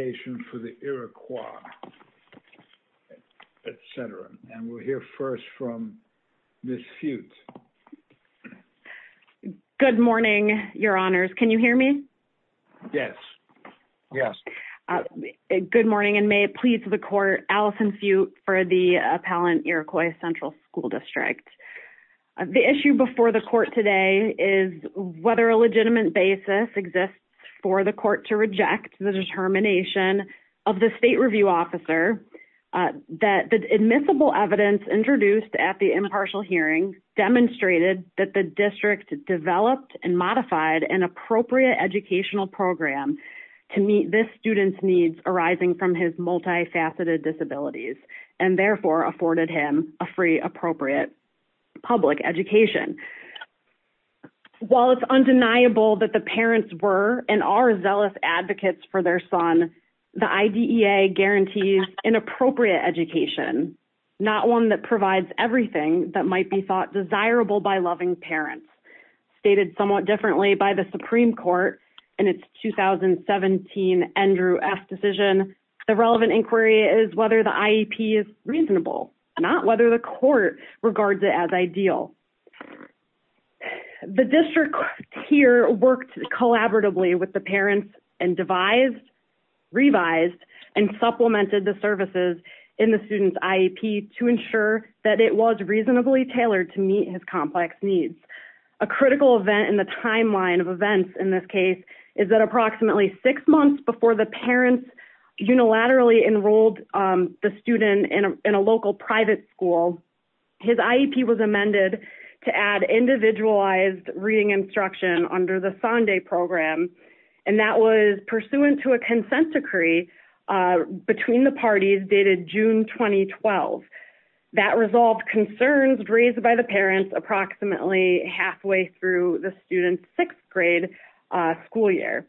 ation for the Iroquois, etc. And we'll hear first from Ms. Fewtt. Good morning, Your Honors. Can you hear me? Yes. Yes. Good morning, and may it please the Court, Allison Fewtt for the Appellant Iroquois Central School District. The issue before the Court today is whether a legitimate basis exists for the Court to reject the determination of the State Review Officer that the admissible evidence introduced at the impartial hearing demonstrated that the district developed and modified an appropriate educational program to meet this student's needs arising from his multifaceted disabilities and therefore afforded him a free appropriate public education. While it's undeniable that the parents were and are zealous advocates for their son, the IDEA guarantees an appropriate education, not one that provides everything that might be thought desirable by loving parents. Stated somewhat differently by the Supreme Court in its 2017 Andrew F. decision, the relevant inquiry is whether the IEP is reasonable, not whether the Court regards it as ideal. The district here worked collaboratively with the parents and devised, revised, and supplemented the services in the student's IEP to ensure that it was reasonably tailored to meet his complex needs. A critical event in the timeline of events in this case is that approximately six months before the parents unilaterally enrolled the student in a local private school, his IEP was amended to add individualized reading instruction under the Sonde Program, and that was pursuant to a consent decree between the parties dated June 2012. That resolved concerns raised by the parents approximately halfway through the student's 6th grade school year.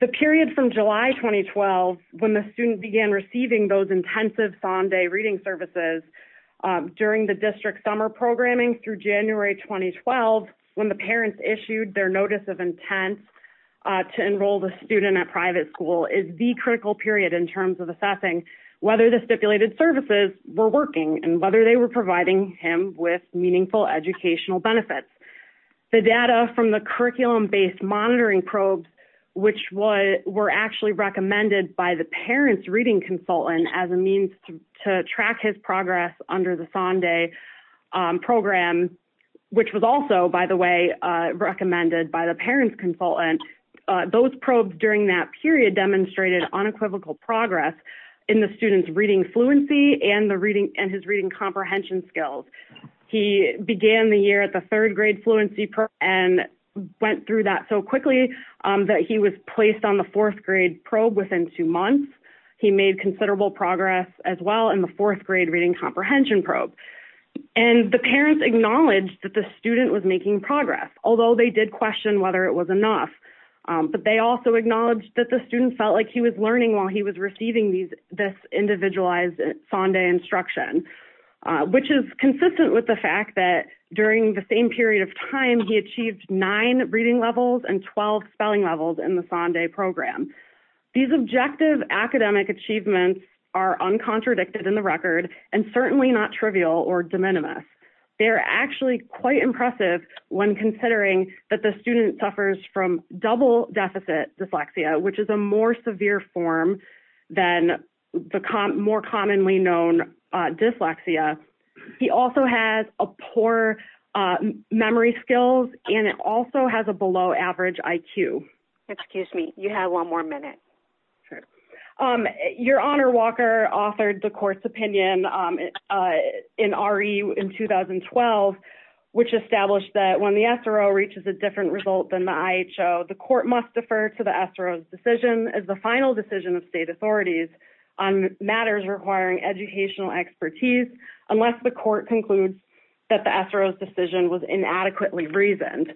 The period from July 2012, when the student began receiving those intensive Sonde reading services during the district's summer programming through January 2012, when the parents issued their notice of intent to enroll the student at private school, is the critical period in terms of assessing whether the stipulated services were working and whether they were providing him with meaningful educational benefits. The data from the curriculum-based monitoring probes, which were actually recommended by the parents' reading consultant as a means to track his progress under the Sonde Program, which was also, by the way, recommended by the parents' consultant, those probes during that period demonstrated unequivocal progress in the student's reading fluency and his reading comprehension skills. He began the year at the 3rd grade fluency probe and went through that so quickly that he was placed on the 4th grade probe within two months. He made considerable progress as well in the 4th grade reading comprehension probe. And the parents acknowledged that the student was making progress, although they did question whether it was enough. But they also acknowledged that the student felt like he was learning while he was receiving this individualized Sonde instruction, which is consistent with the fact that during the same period of time, he achieved 9 reading levels and 12 spelling levels in the Sonde Program. These objective academic achievements are uncontradicted in the record and certainly not trivial or de minimis. They're actually quite impressive when considering that the student suffers from double deficit dyslexia, which is a more severe form than the more commonly known dyslexia. He also has poor memory skills, and it also has a below average IQ. Excuse me. You have one more minute. Your Honor, Walker authored the court's opinion in RE in 2012, which established that when the SRO reaches a different result than the IHO, the court must defer to the SRO's decision as the final decision of state authorities on matters requiring educational expertise, unless the court concludes that the SRO's decision was inadequately reasoned.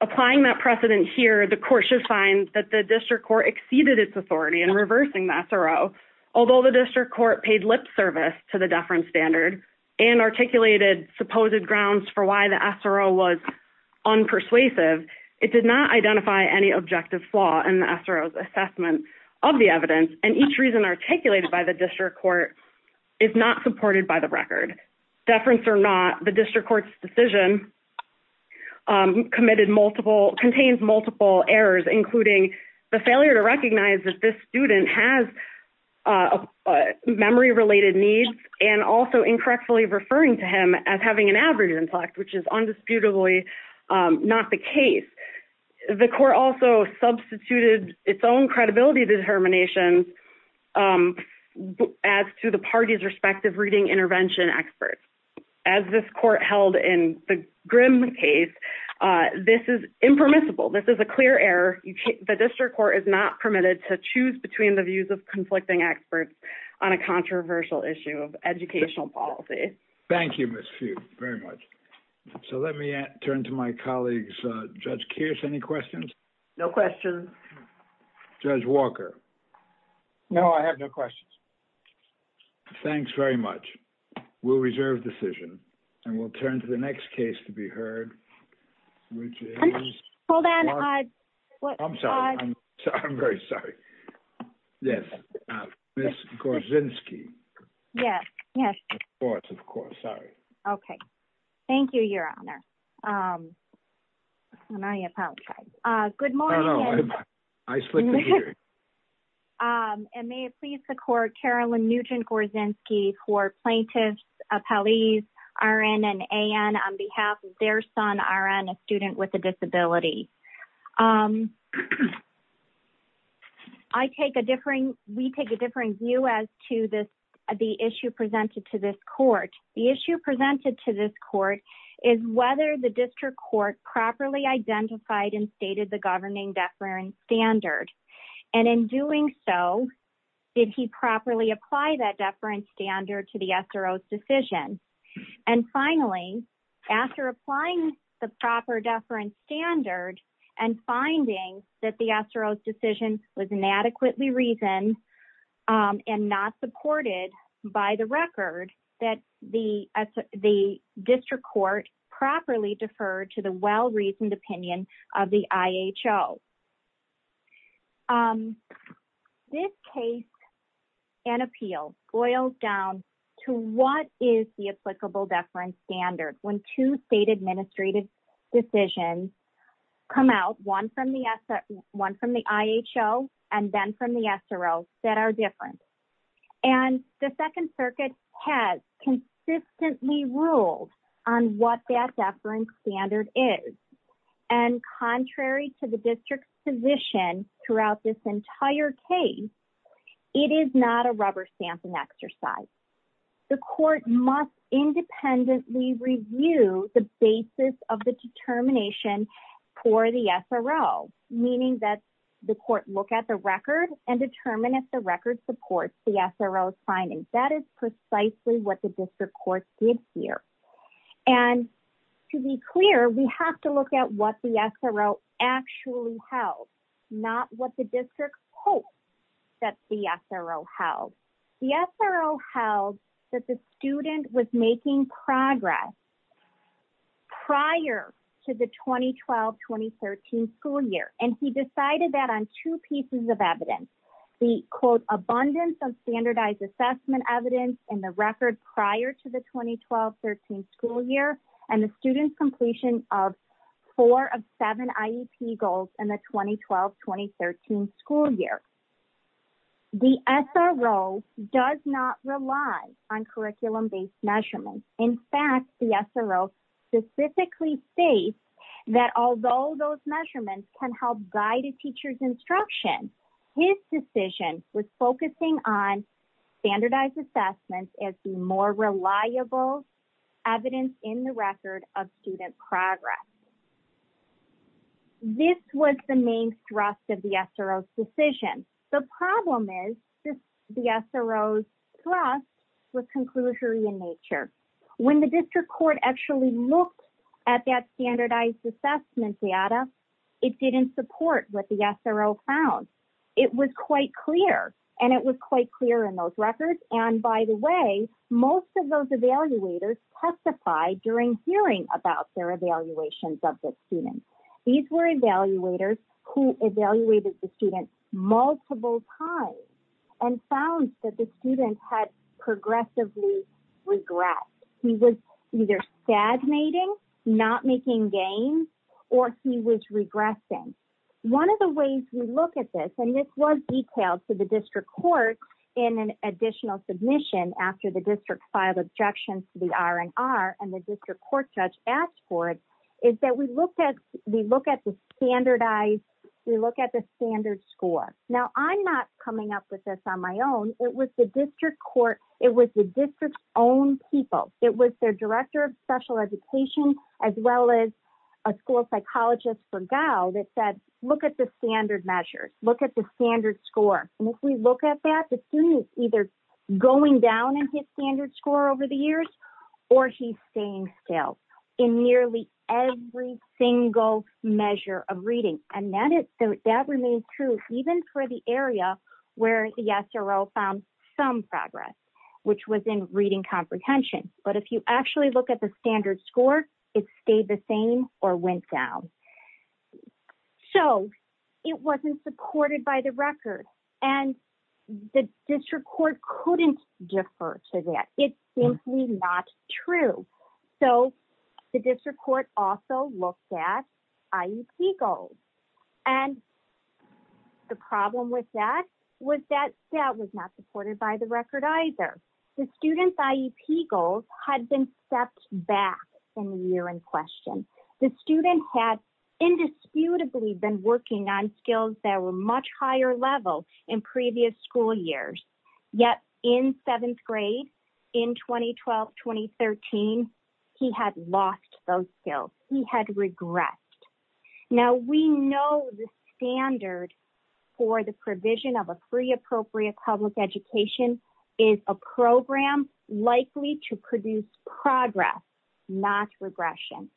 Applying that precedent here, the court should find that the district court exceeded its authority in reversing the SRO, although the district court paid lip service to the deference standard and articulated supposed grounds for why the SRO was unpersuasive, it did not identify any objective flaw in the SRO's assessment of the evidence, and each reason articulated by the district court is not supported by the record. Deference or not, the district court's decision contains multiple errors, including the failure to recognize that this student has memory-related needs and also incorrectly referring to him as having an average intellect, which is undisputably not the case. The court also substituted its own credibility determinations as to the parties' respective reading intervention experts. As this court held in the Grimm case, this is impermissible. This is a clear error. The district court is not permitted to choose between the views of conflicting experts on a controversial issue of educational policy. Thank you, Ms. Few. Very much. So let me turn to my colleagues. Judge Kearse, any questions? No questions. Judge Walker? No, I have no questions. Thanks very much. We'll reserve decision, and we'll turn to the next case to be heard, which is Ms. Gorzinski. Yes, yes. Of course, of course. Sorry. Okay. Thank you, Your Honor. And I apologize. Good morning. No, no. I slipped the gear. And may it please the court, Carolyn Nugent Gorzinski for plaintiffs, appellees, RN and AN, on behalf of their son, RN, a student with a disability. I take a differing, we take a differing view as to this, the issue presented to this court. The issue presented to this court is whether the district court properly identified and stated the governing deference standard. And in doing so, did he properly apply that deference standard to the SRO's decision? And finally, after applying the proper deference standard and finding that the SRO's decision was inadequately reasoned and not supported by the record, that the district court properly deferred to the well-reasoned opinion of the IHO. This case and appeal boils down to what is the applicable deference standard when two state administrative decisions come out, one from the IHO and then from the SRO, that are different. And the Second Circuit has consistently ruled on what that deference standard is. And contrary to the district's position throughout this entire case, it is not a rubber stamping exercise. The court must independently review the basis of the determination for the SRO, meaning that the court look at the record and determine if the record supports the SRO's findings. That is precisely what the district court did here. And to be clear, we have to look at what the SRO actually held, not what the district hopes that the SRO held. The SRO held that the student was making progress prior to the 2012-2013 school year. And he decided that on two pieces of evidence. The, quote, abundance of standardized assessment evidence in the record prior to the 2012-2013 school year and the student's completion of four of seven IEP goals in the 2012-2013 school year. The SRO does not rely on curriculum-based measurements. In fact, the SRO specifically states that although those measurements can help guide a teacher's instruction, his decision was focusing on standardized assessments as the more reliable evidence in the record of student progress. This was the main thrust of the SRO's decision. The problem is the SRO's thrust was conclusory in nature. When the district court actually looked at that standardized assessment data, it didn't support what the SRO found. It was quite clear. And it was quite clear in those records. And by the way, most of those evaluators testified during hearing about their evaluations of the student. These were evaluators who evaluated the student multiple times and found that the student had progressively regressed. He was either stagnating, not making gains, or he was regressing. One of the ways we look at this, and this was detailed to the district court in an additional submission after the district filed objections to the R&R and the district court judge asked for it, is that we look at the standardized, we look at the standard score. Now, I'm not coming up with this on my own. It was the district court, it was the district's own people. It was their director of special education, as well as a school psychologist for Gao that said, look at the standard measures, look at the standard score. And if we look at that, the student is either going down in his standard score over the years, or he's staying still in nearly every single measure of reading. And that remains true even for the area where the SRO found some progress, which was in reading comprehension. But if you actually look at the standard score, it stayed the same or went down. So, it wasn't supported by the record. And the district court couldn't defer to that. It's simply not true. So, the district court also looked at IEP goals. And the problem with that was that that was not supported by the record either. The student's IEP goals had been stepped back in the year in question. The student had indisputably been working on skills that were much higher level in previous school years. Yet, in seventh grade, in 2012-2013, he had lost those skills. He had regressed. Now, we know the standard for the provision of a free appropriate public education is a program likely to produce progress, not regression.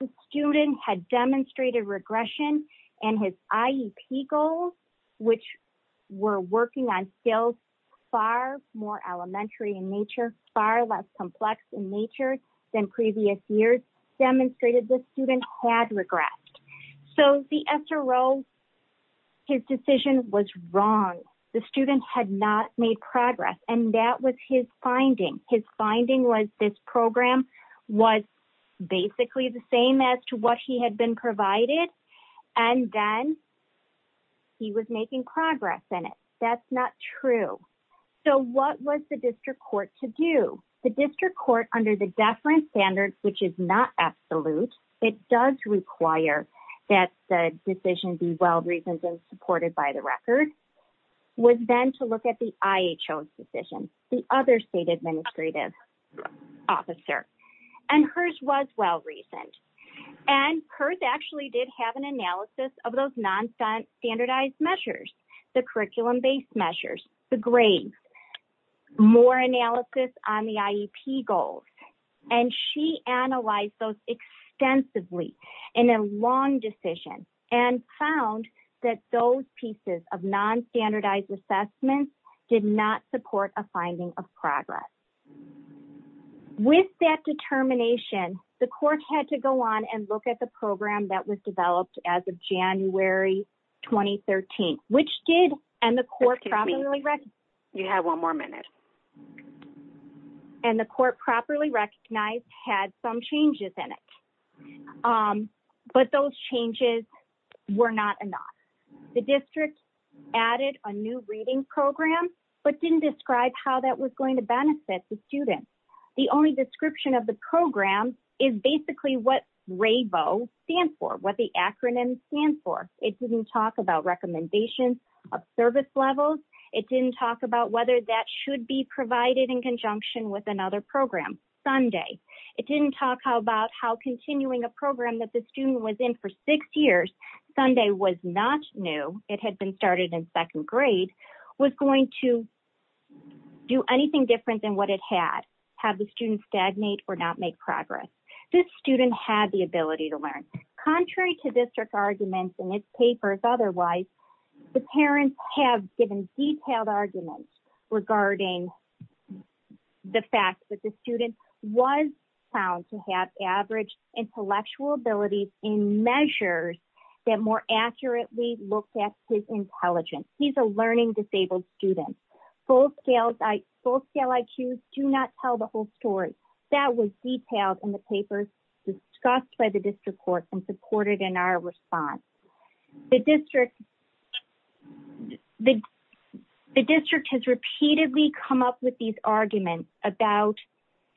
The student had demonstrated regression, and his IEP goals, which were working on skills far more elementary in nature, far less complex in nature than previous years, demonstrated the student had regressed. So, the SRO, his decision was wrong. The student had not made progress. And that was his finding. His finding was this program was basically the same as to what he had been provided, and then he was making progress in it. That's not true. So, what was the district court to do? The district court, under the deferent standards, which is not absolute, it does require that the decision be well-reasoned and supported by the record, was then to look at the IHO's decision, the other state administrative officer. And hers was well-reasoned. And hers actually did have an analysis of those nonstandardized measures, the curriculum-based measures, the grades, more analysis on the IEP goals. And she analyzed those extensively in a long decision and found that those pieces of nonstandardized assessments did not support a finding of progress. With that determination, the court had to go on and look at the program that was developed as of January 2013, which did, and the court properly recognized. You have one more minute. And the court properly recognized had some changes in it. But those changes were not enough. The district added a new reading program, but didn't describe how that was going to benefit the students. The only description of the program is basically what RABO stands for, what the acronym stands for. It didn't talk about recommendations of service levels. It didn't talk about whether that should be provided in conjunction with another program. It didn't talk about how continuing a program that the student was in for six years, Sunday was not new, it had been started in second grade, was going to do anything different than what it had. Have the students stagnate or not make progress. This student had the ability to learn. Contrary to district arguments in its papers otherwise, the parents have given detailed arguments regarding the fact that the student was found to have average intellectual abilities in measures that more accurately looked at his intelligence. He's a learning disabled student. Full scale IQs do not tell the whole story. That was detailed in the papers discussed by the district court and supported in our response. The district has repeatedly come up with these arguments that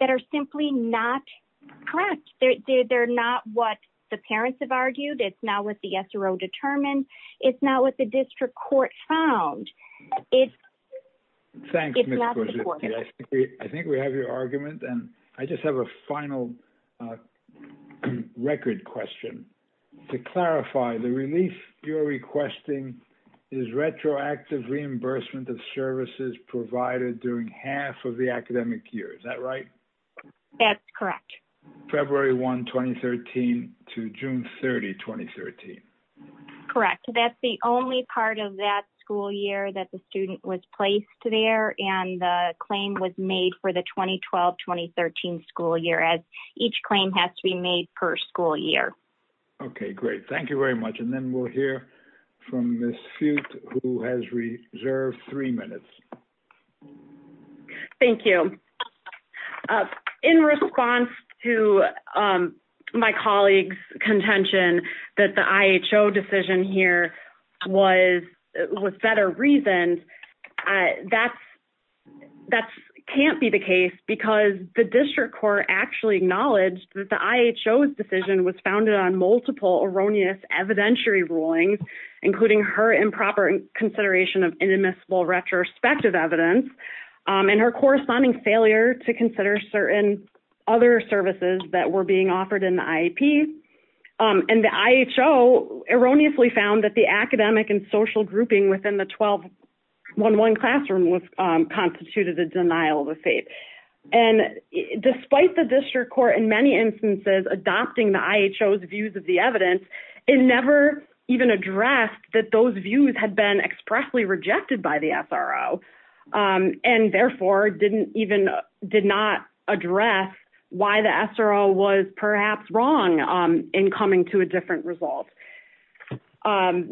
are simply not correct. They're not what the parents have argued. It's not what the SRO determined. It's not what the district court found. It's not supported. I think we have your argument. I just have a final record question. To clarify, the relief you're requesting is retroactive reimbursement of services provided during half of the academic year. Is that right? That's correct. February 1, 2013 to June 30, 2013. Correct. That's the only part of that school year that the student was placed there, and the claim was made for the 2012-2013 school year. Each claim has to be made per school year. Okay, great. Thank you very much. And then we'll hear from Ms. Fugte, who has reserved three minutes. Thank you. In response to my colleague's contention that the IHO decision here was better reasoned, that can't be the case, because the district court actually acknowledged that the IHO's decision was founded on multiple erroneous evidentiary rulings, including her improper consideration of inadmissible retrospective evidence and her corresponding failure to consider certain other services that were being offered in the IEP. And the IHO erroneously found that the academic and social grouping within the 12-1-1 classroom constituted a denial of the fate. And despite the district court in many instances adopting the IHO's views of the evidence, it never even addressed that those views had been expressly rejected by the SRO and therefore did not address why the SRO was perhaps wrong in coming to a different result. And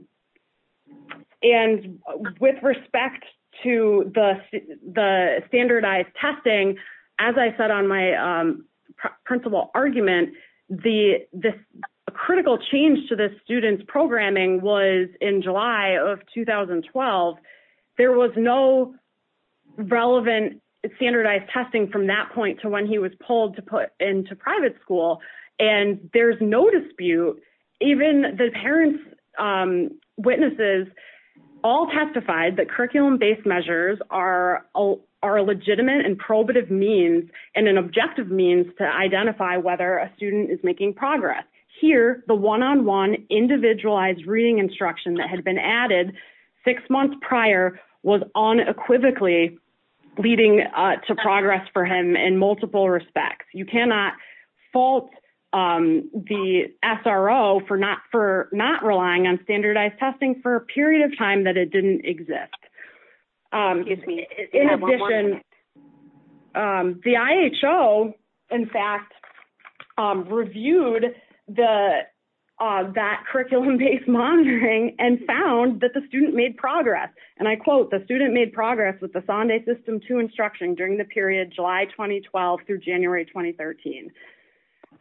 with respect to the standardized testing, as I said on my principal argument, the critical change to the students' programming was in July of 2012. There was no relevant standardized testing from that point to when he was pulled to put into private school, and there's no dispute. Even the parents' witnesses all testified that curriculum-based measures are a legitimate and probative means and an objective means to identify whether a student is making progress. Here, the one-on-one individualized reading instruction that had been added six months prior was unequivocally leading to progress for him in multiple respects. You cannot fault the SRO for not relying on standardized testing for a period of time that it didn't exist. In addition, the IHO, in fact, reviewed that curriculum-based monitoring and found that the student made progress. And I quote, the student made progress with the Sonde System 2 instruction during the period July 2012 through January 2013.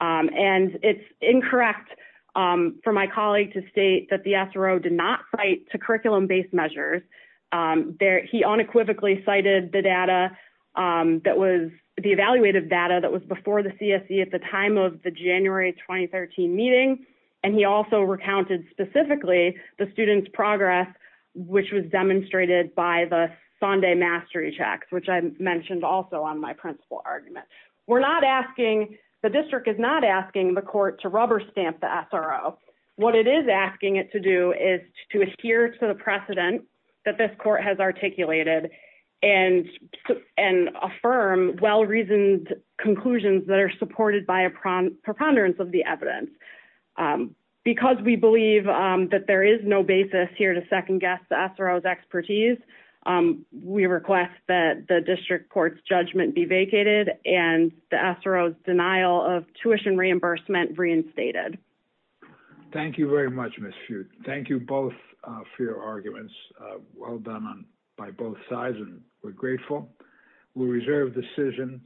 And it's incorrect for my colleague to state that the SRO did not cite to curriculum-based measures. He unequivocally cited the data that was the evaluative data that was before the CSE at the time of the January 2013 meeting, and he also recounted specifically the student's progress, which was demonstrated by the Sonde Mastery Checks, which I mentioned also on my principle argument. We're not asking, the district is not asking the court to rubber stamp the SRO. What it is asking it to do is to adhere to the precedent that this court has articulated and affirm well-reasoned conclusions that are supported by a preponderance of the evidence. Because we believe that there is no basis here to second-guess the SRO's expertise, we request that the district court's judgment be vacated and the SRO's denial of tuition reimbursement reinstated. Thank you very much, Ms. Few. Thank you both for your arguments. Well done by both sides, and we're grateful. We reserve the decision.